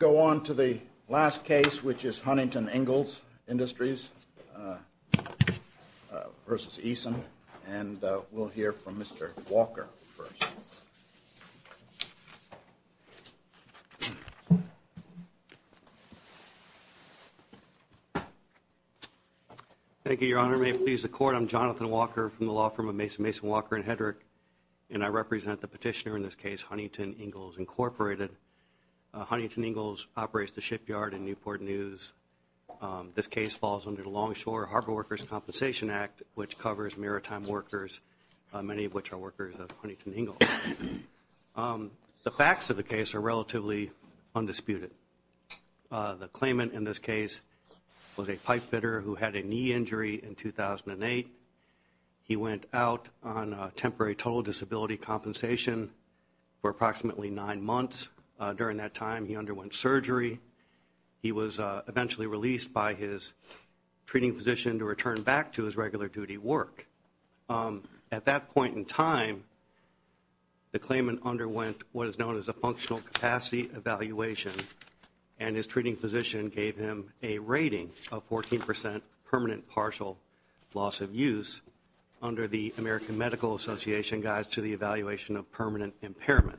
Go on to the last case, which is Huntington Ingalls Industries versus Eason, and we'll hear from Mr. Walker first. Thank you, Your Honor. May it please the Court. I'm Jonathan Walker from the law firm of Mason, Mason, Walker & Hedrick, and I represent the petitioner in this case, Huntington Ingalls Incorporated. Huntington Ingalls operates the shipyard in Newport News. This case falls under the Longshore Harbor Workers' Compensation Act, which covers maritime workers, many of which are workers of Huntington Ingalls. The facts of the case are relatively undisputed. The claimant in this case was a pipe fitter who had a knee injury in 2008. He went out on temporary total disability compensation for approximately nine months. During that time, he underwent surgery. He was eventually released by his treating physician to return back to his regular duty work. At that point in time, the claimant underwent what is known as a functional capacity evaluation, and his treating physician gave him a rating of 14 percent permanent partial loss of use under the American Medical Association Guides to the Evaluation of Permanent Impairment.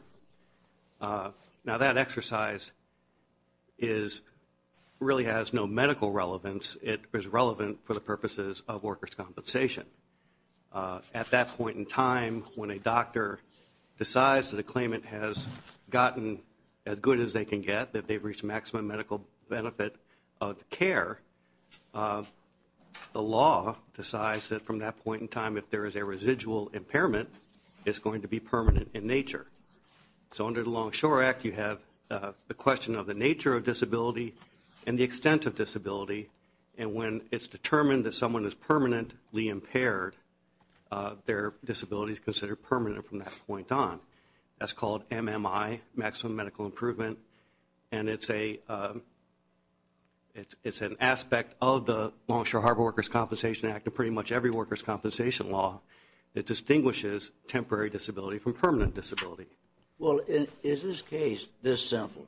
Now, that exercise really has no medical relevance. It is relevant for the purposes of workers' compensation. At that point in time, when a doctor decides that a claimant has gotten as good as they can get, that they've reached maximum medical benefit of care, the law decides that from that point in time, if there is a residual impairment, it's going to be permanent in nature. So under the Longshore Act, you have the question of the nature of disability and the extent of disability. And when it's determined that someone is permanently impaired, their disability is considered permanent from that point on. That's called MMI, maximum medical improvement, and it's an aspect of the Longshore Harbor Workers' Compensation Act and pretty much every workers' compensation law that distinguishes temporary disability from permanent disability. Well, is this case this simple?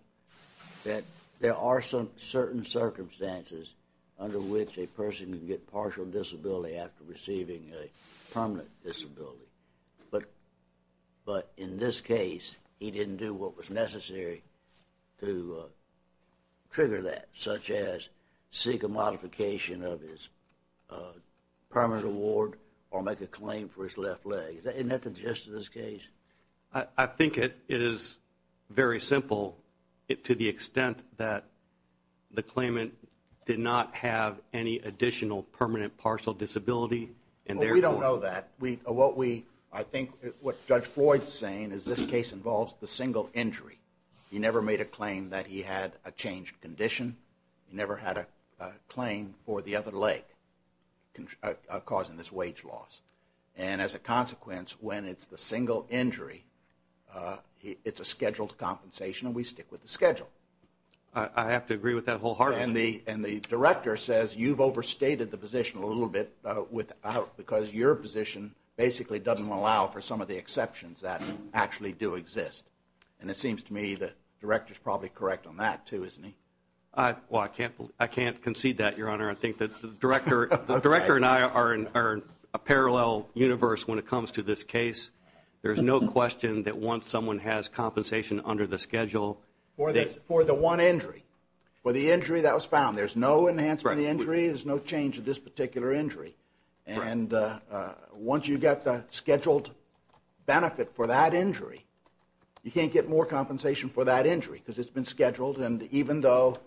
That there are certain circumstances under which a person can get partial disability after receiving a permanent disability, but in this case, he didn't do what was necessary to trigger that, such as seek a modification of his permanent award or make a claim for his left leg. Isn't that the gist of this case? I think it is very simple to the extent that the claimant did not have any additional permanent partial disability. Well, we don't know that. I think what Judge Floyd is saying is this case involves the single injury. He never made a claim that he had a changed condition. He never had a claim for the other leg causing this wage loss. And as a consequence, when it's the single injury, it's a scheduled compensation, and we stick with the schedule. I have to agree with that wholeheartedly. And the director says you've overstated the position a little bit without, because your position basically doesn't allow for some of the exceptions that actually do exist. And it seems to me the director is probably correct on that, too, isn't he? Well, I can't concede that, Your Honor. I think the director and I are in a parallel universe when it comes to this case. There's no question that once someone has compensation under the schedule for the one injury, for the injury that was found, there's no enhancement of the injury, there's no change of this particular injury. And once you get the scheduled benefit for that injury, you can't get more compensation for that injury because it's been scheduled and even though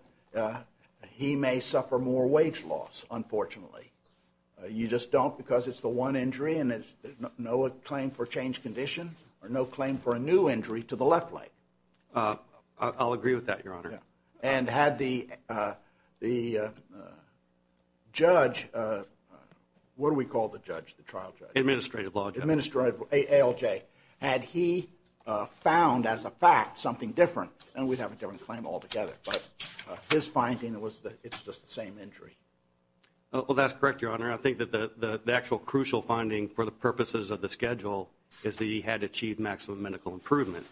he may suffer more wage loss, unfortunately. You just don't because it's the one injury and there's no claim for changed condition or no claim for a new injury to the left leg. I'll agree with that, Your Honor. And had the judge, what do we call the judge, the trial judge? Administrative law judge. Administrative, ALJ. Had he found as a fact something different and we'd have a different claim altogether. But his finding was that it's just the same injury. Well, that's correct, Your Honor. I think that the actual crucial finding for the purposes of the schedule is that he had achieved maximum medical improvement.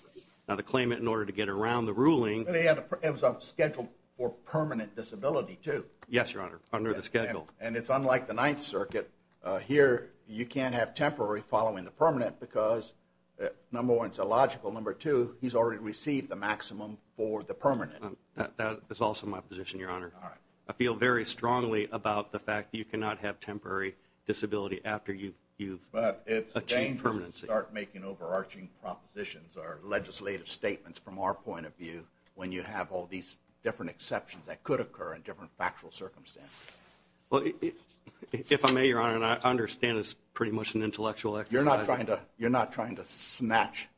Now, to claim it in order to get around the ruling. It was scheduled for permanent disability, too. Yes, Your Honor, under the schedule. And it's unlike the Ninth Circuit. Here, you can't have temporary following the permanent because, number one, it's illogical. Number two, he's already received the maximum for the permanent. That is also my position, Your Honor. All right. I feel very strongly about the fact that you cannot have temporary disability after you've achieved permanency. But it's dangerous to start making overarching propositions or legislative statements from our point of view when you have all these different exceptions that could occur in different factual circumstances. Well, if I may, Your Honor, and I understand it's pretty much an intellectual exercise. You're not trying to snatch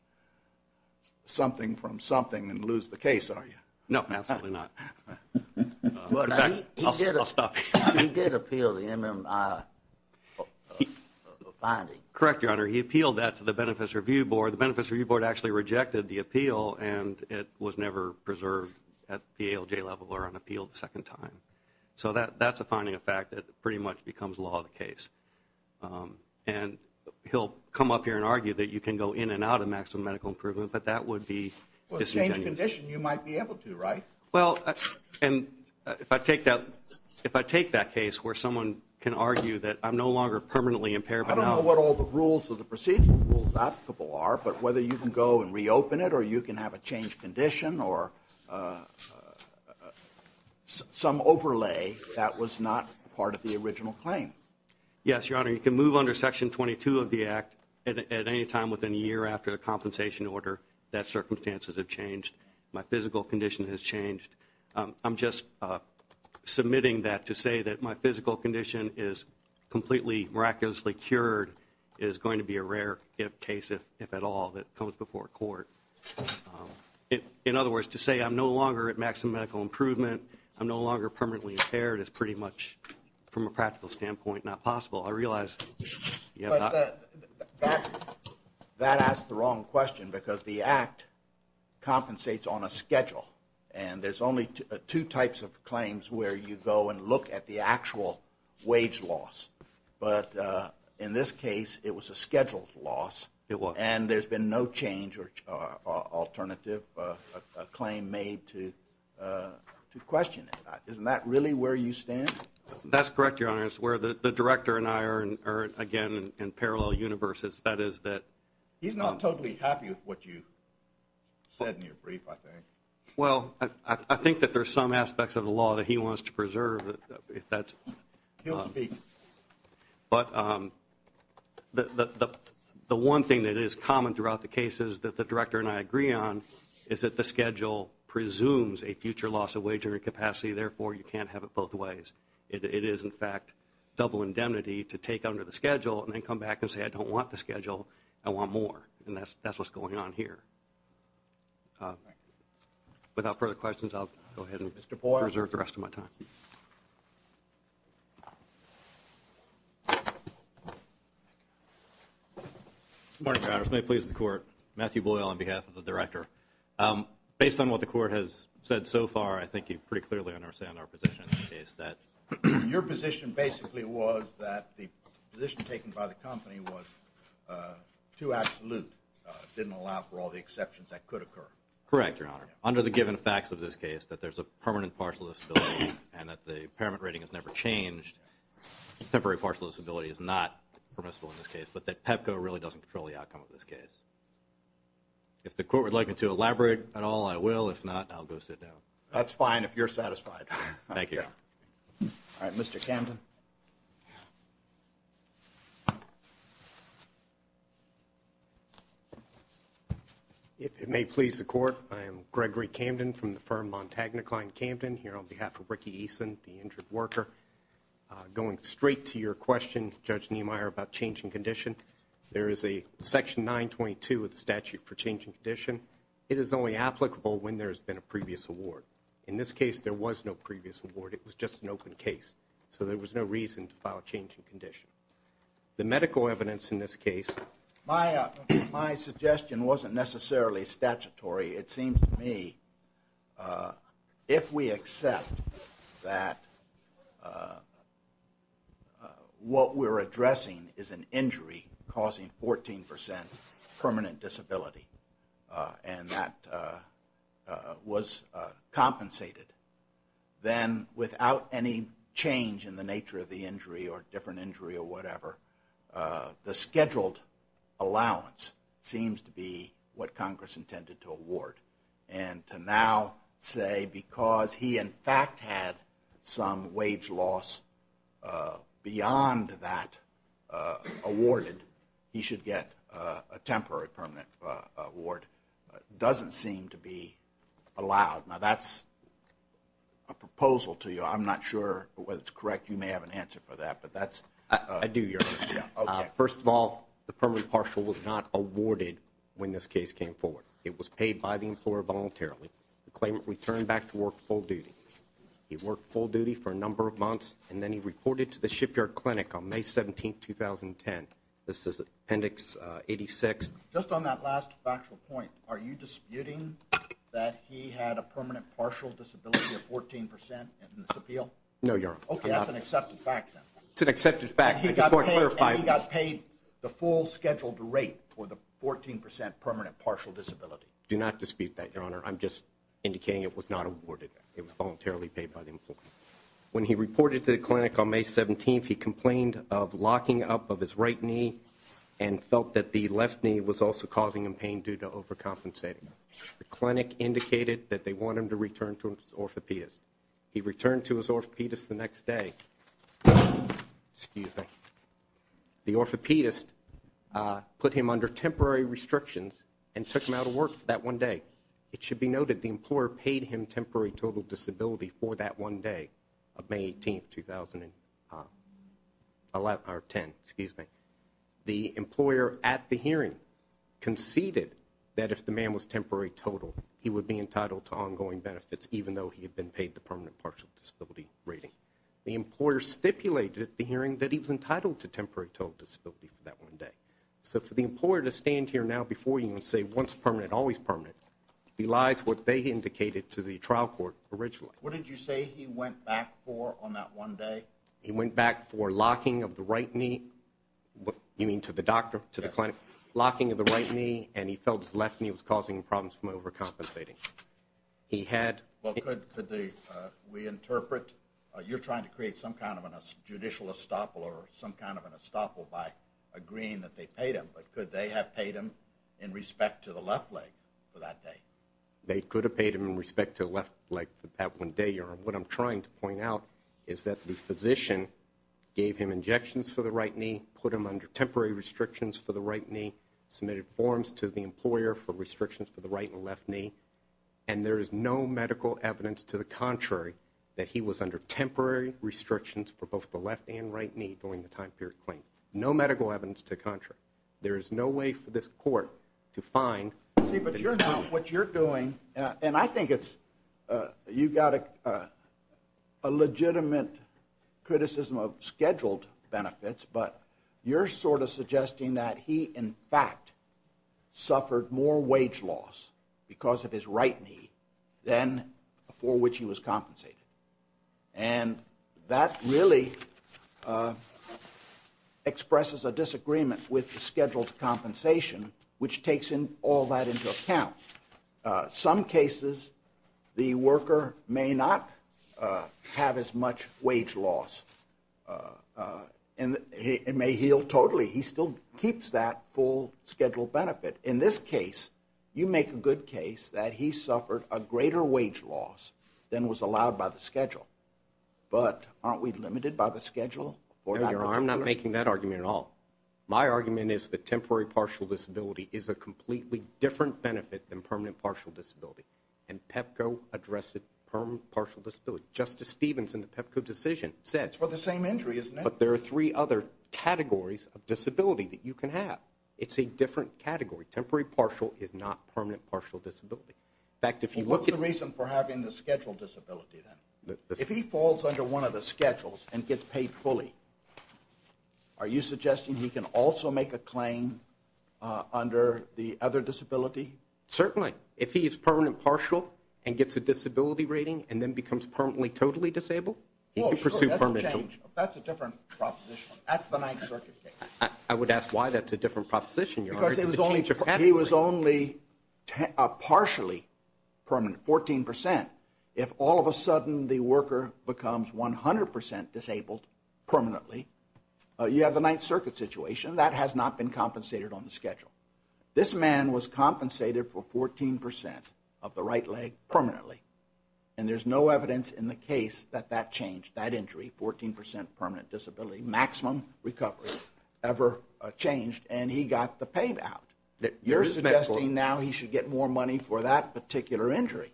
something from something and lose the case, are you? No, absolutely not. In fact, I'll stop here. He did appeal the MMI finding. Correct, Your Honor. He appealed that to the Benefits Review Board. The Benefits Review Board actually rejected the appeal, and it was never preserved at the ALJ level or on appeal the second time. So that's a finding of fact that pretty much becomes law of the case. And he'll come up here and argue that you can go in and out of maximum medical improvement, but that would be disingenuous. Well, it's the same condition. You might be able to, right? Well, and if I take that case where someone can argue that I'm no longer permanently impaired but now— but whether you can go and reopen it or you can have a changed condition or some overlay that was not part of the original claim. Yes, Your Honor. You can move under Section 22 of the Act at any time within a year after the compensation order that circumstances have changed, my physical condition has changed. I'm just submitting that to say that my physical condition is completely miraculously cured is going to be a rare case, if at all, that comes before court. In other words, to say I'm no longer at maximum medical improvement, I'm no longer permanently impaired, is pretty much from a practical standpoint not possible. I realize you have not— But that asks the wrong question because the Act compensates on a schedule, and there's only two types of claims where you go and look at the actual wage loss. But in this case, it was a scheduled loss. It was. And there's been no change or alternative claim made to question it. Isn't that really where you stand? That's correct, Your Honor. It's where the Director and I are, again, in parallel universes. That is that— He's not totally happy with what you said in your brief, I think. He'll speak. But the one thing that is common throughout the cases that the Director and I agree on is that the schedule presumes a future loss of wagering capacity, therefore you can't have it both ways. It is, in fact, double indemnity to take under the schedule and then come back and say I don't want the schedule, I want more. And that's what's going on here. Thank you. Without further questions, I'll go ahead and reserve the rest of my time. Mr. Boyle. Good morning, Your Honor. May it please the Court, Matthew Boyle on behalf of the Director. Based on what the Court has said so far, I think you pretty clearly understand our position in this case, that your position basically was that the position taken by the company was too absolute, didn't allow for all the exceptions that could occur. Correct, Your Honor. Under the given facts of this case, that there's a permanent partial disability and that the impairment rating has never changed, temporary partial disability is not permissible in this case, but that PEPCO really doesn't control the outcome of this case. If the Court would like me to elaborate at all, I will. If not, I'll go sit down. That's fine if you're satisfied. Thank you. All right, Mr. Camden. If it may please the Court, I am Gregory Camden from the firm Montagna-Klein Camden, here on behalf of Ricky Eason, the injured worker. Going straight to your question, Judge Niemeyer, about change in condition, there is a Section 922 of the statute for change in condition. It is only applicable when there has been a previous award. In this case, there was no previous award. It was just an open case, so there was no reason to file a change in condition. The medical evidence in this case? My suggestion wasn't necessarily statutory. It seems to me if we accept that what we're addressing is an injury causing 14% permanent disability and that was compensated, then without any change in the nature of the injury or different injury or whatever, the scheduled allowance seems to be what Congress intended to award. And to now say because he in fact had some wage loss beyond that awarded, he should get a temporary permanent award doesn't seem to be allowed. Now that's a proposal to you. I'm not sure whether it's correct. You may have an answer for that. I do, Your Honor. First of all, the permanent partial was not awarded when this case came forward. It was paid by the employer voluntarily. The claimant returned back to work full duty. He worked full duty for a number of months and then he reported to the shipyard clinic on May 17, 2010. This is Appendix 86. Just on that last factual point, are you disputing that he had a permanent partial disability of 14% in this appeal? No, Your Honor. Okay, that's an accepted fact then. It's an accepted fact. And he got paid the full scheduled rate for the 14% permanent partial disability. Do not dispute that, Your Honor. I'm just indicating it was not awarded. It was voluntarily paid by the employer. When he reported to the clinic on May 17th, he complained of locking up of his right knee and felt that the left knee was also causing him pain due to overcompensating. The clinic indicated that they wanted him to return to his orthopedist. He returned to his orthopedist the next day. The orthopedist put him under temporary restrictions and took him out of work for that one day. It should be noted the employer paid him temporary total disability for that one day of May 18th, 2010. The employer at the hearing conceded that if the man was temporary total, he would be entitled to ongoing benefits even though he had been paid the permanent partial disability rating. The employer stipulated at the hearing that he was entitled to temporary total disability for that one day. So for the employer to stand here now before you and say once permanent, always permanent, belies what they indicated to the trial court originally. What did you say he went back for on that one day? He went back for locking of the right knee. You mean to the doctor, to the clinic? Yes. Locking of the right knee and he felt his left knee was causing him problems from overcompensating. He had- Well, could we interpret you're trying to create some kind of a judicial estoppel or some kind of an estoppel by agreeing that they paid him, but could they have paid him in respect to the left leg for that day? They could have paid him in respect to the left leg for that one day. What I'm trying to point out is that the physician gave him injections for the right knee, put him under temporary restrictions for the right knee, submitted forms to the employer for restrictions for the right and left knee, and there is no medical evidence to the contrary that he was under temporary restrictions for both the left and right knee during the time period claim. No medical evidence to the contrary. There is no way for this court to find- See, but you're not- What you're doing, and I think it's- You've got a legitimate criticism of scheduled benefits, but you're sort of suggesting that he, in fact, suffered more wage loss because of his right knee than for which he was compensated. And that really expresses a disagreement with the scheduled compensation, which takes all that into account. Some cases, the worker may not have as much wage loss and may heal totally. He still keeps that full scheduled benefit. In this case, you make a good case that he suffered a greater wage loss than was allowed by the schedule, but aren't we limited by the schedule? No, Your Honor, I'm not making that argument at all. My argument is that temporary partial disability is a completely different benefit than permanent partial disability, and PEPCO addressed the permanent partial disability. Justice Stevens in the PEPCO decision said- It's for the same injury, isn't it? But there are three other categories of disability that you can have. It's a different category. Temporary partial is not permanent partial disability. What's the reason for having the scheduled disability then? If he falls under one of the schedules and gets paid fully, are you suggesting he can also make a claim under the other disability? Certainly. If he is permanent partial and gets a disability rating and then becomes permanently totally disabled, he can pursue permanent- Oh, sure, that's a change. That's a different proposition. That's the Ninth Circuit case. I would ask why that's a different proposition, Your Honor. He was only partially permanent, 14%. If all of a sudden the worker becomes 100% disabled permanently, you have the Ninth Circuit situation. That has not been compensated on the schedule. This man was compensated for 14% of the right leg permanently, and there's no evidence in the case that that changed, that injury, 14% permanent disability, maximum recovery ever changed, and he got the payout. You're suggesting now he should get more money for that particular injury.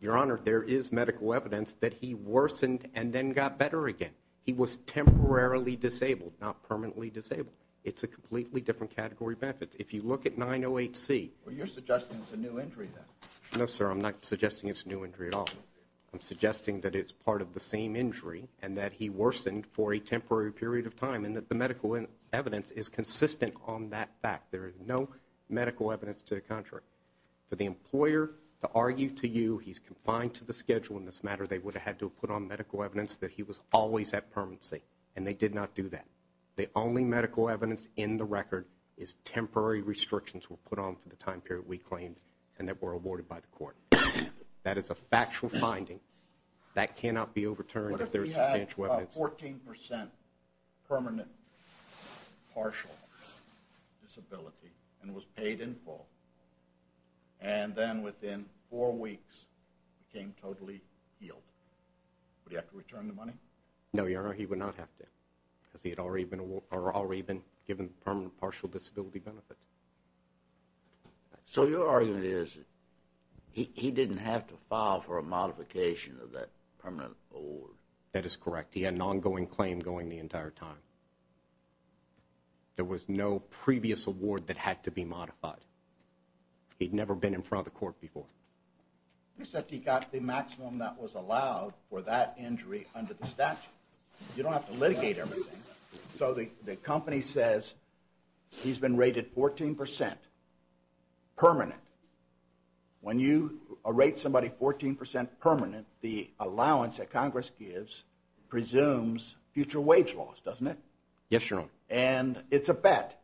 Your Honor, there is medical evidence that he worsened and then got better again. He was temporarily disabled, not permanently disabled. It's a completely different category of benefits. If you look at 908C- You're suggesting it's a new injury then. No, sir, I'm not suggesting it's a new injury at all. I'm suggesting that it's part of the same injury and that he worsened for a temporary period of time and that the medical evidence is consistent on that fact. There is no medical evidence to the contrary. For the employer to argue to you he's confined to the schedule in this matter, they would have had to have put on medical evidence that he was always at permanency, and they did not do that. The only medical evidence in the record is temporary restrictions were put on for the time period we claimed and that were awarded by the court. That is a factual finding. That cannot be overturned if there is substantial evidence. He had about 14% permanent partial disability and was paid in full, and then within four weeks became totally healed. Would he have to return the money? No, Your Honor, he would not have to because he had already been given permanent partial disability benefits. So your argument is he didn't have to file for a modification of that permanent award. That is correct. He had an ongoing claim going the entire time. There was no previous award that had to be modified. He'd never been in front of the court before. Except he got the maximum that was allowed for that injury under the statute. You don't have to litigate everything. So the company says he's been rated 14% permanent. When you rate somebody 14% permanent, the allowance that Congress gives presumes future wage loss, doesn't it? Yes, Your Honor. And it's a bet,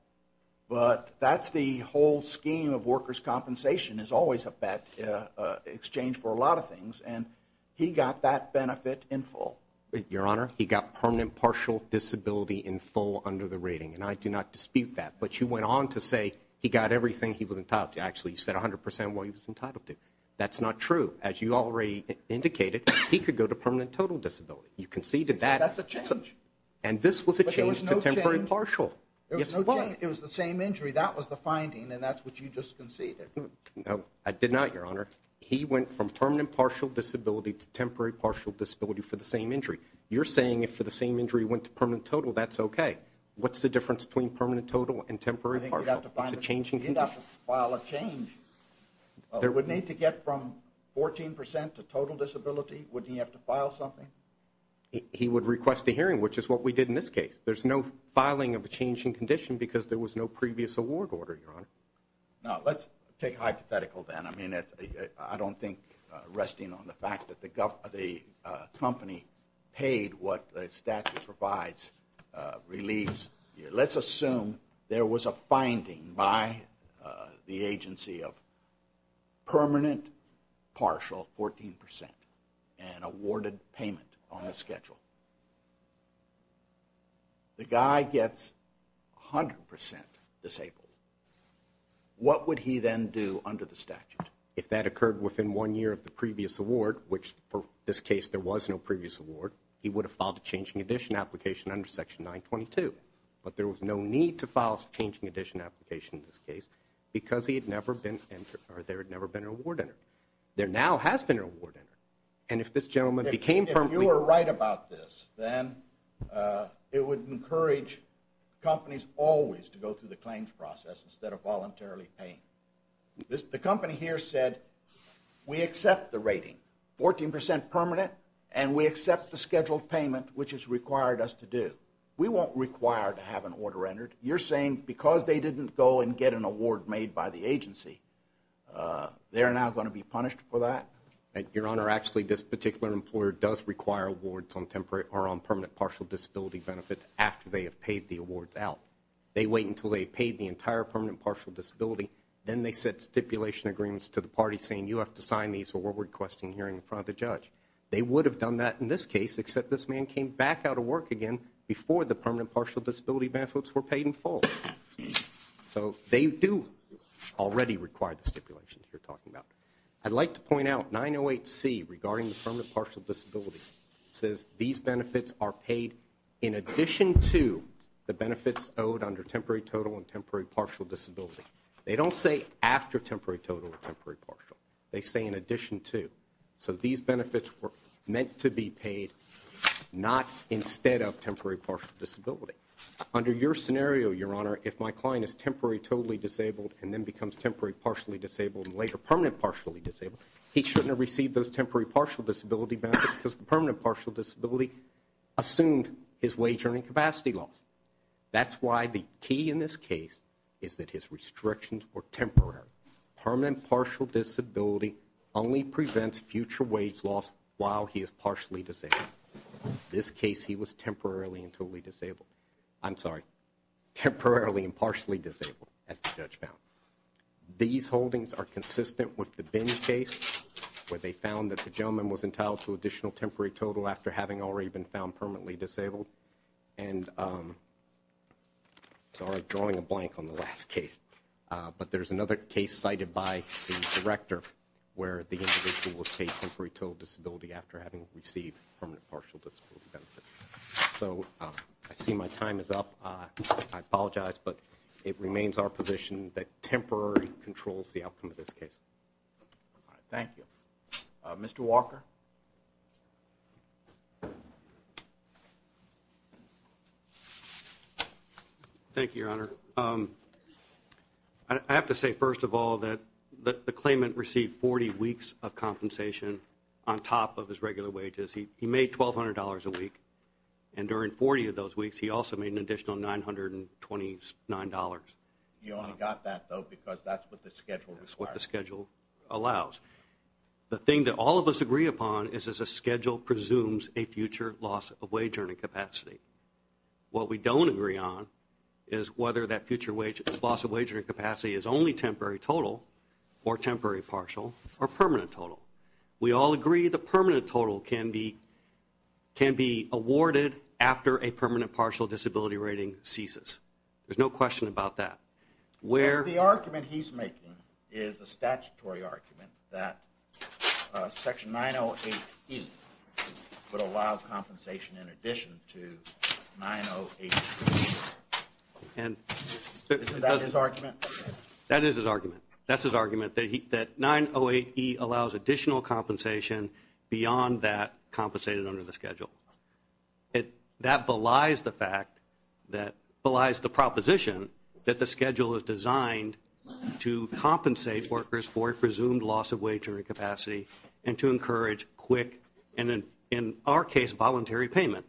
but that's the whole scheme of workers' compensation is always a bet in exchange for a lot of things, and he got that benefit in full. Your Honor, he got permanent partial disability in full under the rating, and I do not dispute that. But you went on to say he got everything he was entitled to. Actually, you said 100% of what he was entitled to. That's not true. As you already indicated, he could go to permanent total disability. You conceded that. That's a change. And this was a change to temporary partial. It was the same injury. That was the finding, and that's what you just conceded. No, I did not, Your Honor. He went from permanent partial disability to temporary partial disability for the same injury. You're saying if for the same injury he went to permanent total, that's okay. What's the difference between permanent total and temporary partial? He'd have to file a change. Would he need to get from 14% to total disability? Wouldn't he have to file something? He would request a hearing, which is what we did in this case. There's no filing of a change in condition because there was no previous award order, Your Honor. Now, let's take a hypothetical then. I mean, I don't think resting on the fact that the company paid what the statute provides relieves. Let's assume there was a finding by the agency of permanent partial, 14%, and awarded payment on the schedule. The guy gets 100% disabled. What would he then do under the statute? If that occurred within one year of the previous award, which for this case there was no previous award, he would have filed a changing addition application under Section 922. But there was no need to file a changing addition application in this case because there had never been an award entered. There now has been an award entered. And if this gentleman became permanently… If you are right about this, then it would encourage companies always to go through the claims process instead of voluntarily paying. The company here said, we accept the rating, 14% permanent, and we accept the scheduled payment, which it's required us to do. We won't require to have an order entered. You're saying because they didn't go and get an award made by the agency, they're now going to be punished for that? Your Honor, actually, this particular employer does require awards on permanent partial disability benefits after they have paid the awards out. They wait until they've paid the entire permanent partial disability, then they set stipulation agreements to the party saying you have to sign these or we're requesting a hearing in front of the judge. They would have done that in this case, except this man came back out of work again before the permanent partial disability benefits were paid in full. So they do already require the stipulations you're talking about. I'd like to point out 908C regarding the permanent partial disability says these benefits are paid in addition to the benefits owed under temporary total and temporary partial disability. They don't say after temporary total and temporary partial. They say in addition to. So these benefits were meant to be paid not instead of temporary partial disability. Under your scenario, Your Honor, if my client is temporary totally disabled and then becomes temporary partially disabled and later permanent partially disabled, he shouldn't have received those temporary partial disability benefits because the permanent partial disability assumed his wage earning capacity loss. That's why the key in this case is that his restrictions were temporary. Permanent partial disability only prevents future wage loss while he is partially disabled. This case, he was temporarily and totally disabled. I'm sorry. Temporarily and partially disabled as the judge found. These holdings are consistent with the case where they found that the gentleman was entitled to additional temporary total after having already been found permanently disabled. And so I'm drawing a blank on the last case. But there's another case cited by the director where the individual was paid temporary total disability after having received permanent partial disability benefits. So I see my time is up. I apologize. But it remains our position that temporary controls the outcome of this case. Thank you. Mr. Walker. Thank you, Your Honor. I have to say, first of all, that the claimant received 40 weeks of compensation on top of his regular wages. He made $1,200 a week. And during 40 of those weeks, he also made an additional $929. You only got that, though, because that's what the schedule requires. That's what the schedule allows. The thing that all of us agree upon is that the schedule presumes a future loss of wage earning capacity. What we don't agree on is whether that future loss of wage earning capacity is only temporary total or temporary partial or permanent total. We all agree the permanent total can be awarded after a permanent partial disability rating ceases. There's no question about that. The argument he's making is a statutory argument that Section 908E would allow compensation in addition to 908E. Is that his argument? That is his argument. That's his argument, that 908E allows additional compensation beyond that compensated under the schedule. That belies the proposition that the schedule is designed to compensate workers for a presumed loss of wage earning capacity and to encourage quick and, in our case, voluntary payment.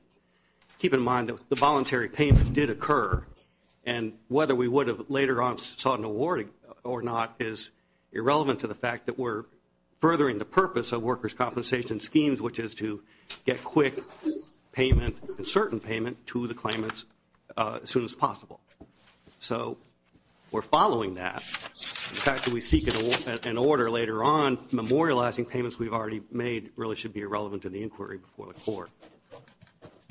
Keep in mind that the voluntary payment did occur. And whether we would have later on sought an award or not is irrelevant to the fact that we're furthering the purpose of workers' compensation schemes, which is to get quick payment and certain payment to the claimants as soon as possible. So we're following that. The fact that we seek an order later on memorializing payments we've already made really should be irrelevant to the inquiry before the court.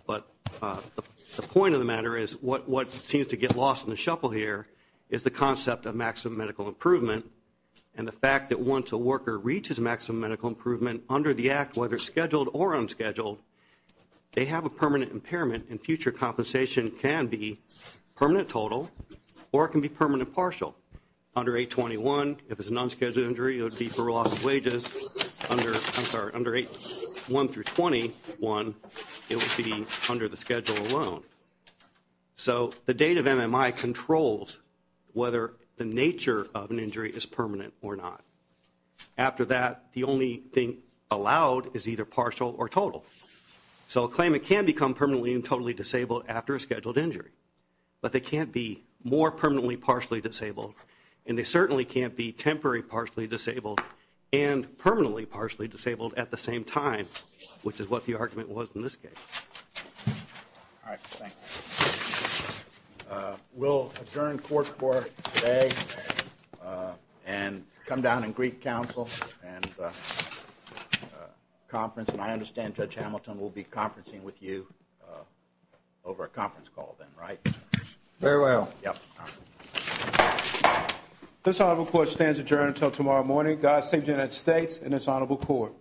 But the point of the matter is what seems to get lost in the shuffle here is the concept of maximum medical improvement and the fact that once a worker reaches maximum medical improvement under the act, whether scheduled or unscheduled, they have a permanent impairment and future compensation can be permanent total or it can be permanent partial. Under 821, if it's an unscheduled injury, it would be for loss of wages. Under 81 through 21, it would be under the schedule alone. So the date of MMI controls whether the nature of an injury is permanent or not. After that, the only thing allowed is either partial or total. So a claimant can become permanently and totally disabled after a scheduled injury, but they can't be more permanently partially disabled and they certainly can't be temporary partially disabled and permanently partially disabled at the same time, which is what the argument was in this case. All right. We'll adjourn court for today and come down and greet counsel and conference. And I understand Judge Hamilton will be conferencing with you over a conference call then, right? Very well. Yep. This honorable court stands adjourned until tomorrow morning. God save the United States and this honorable court.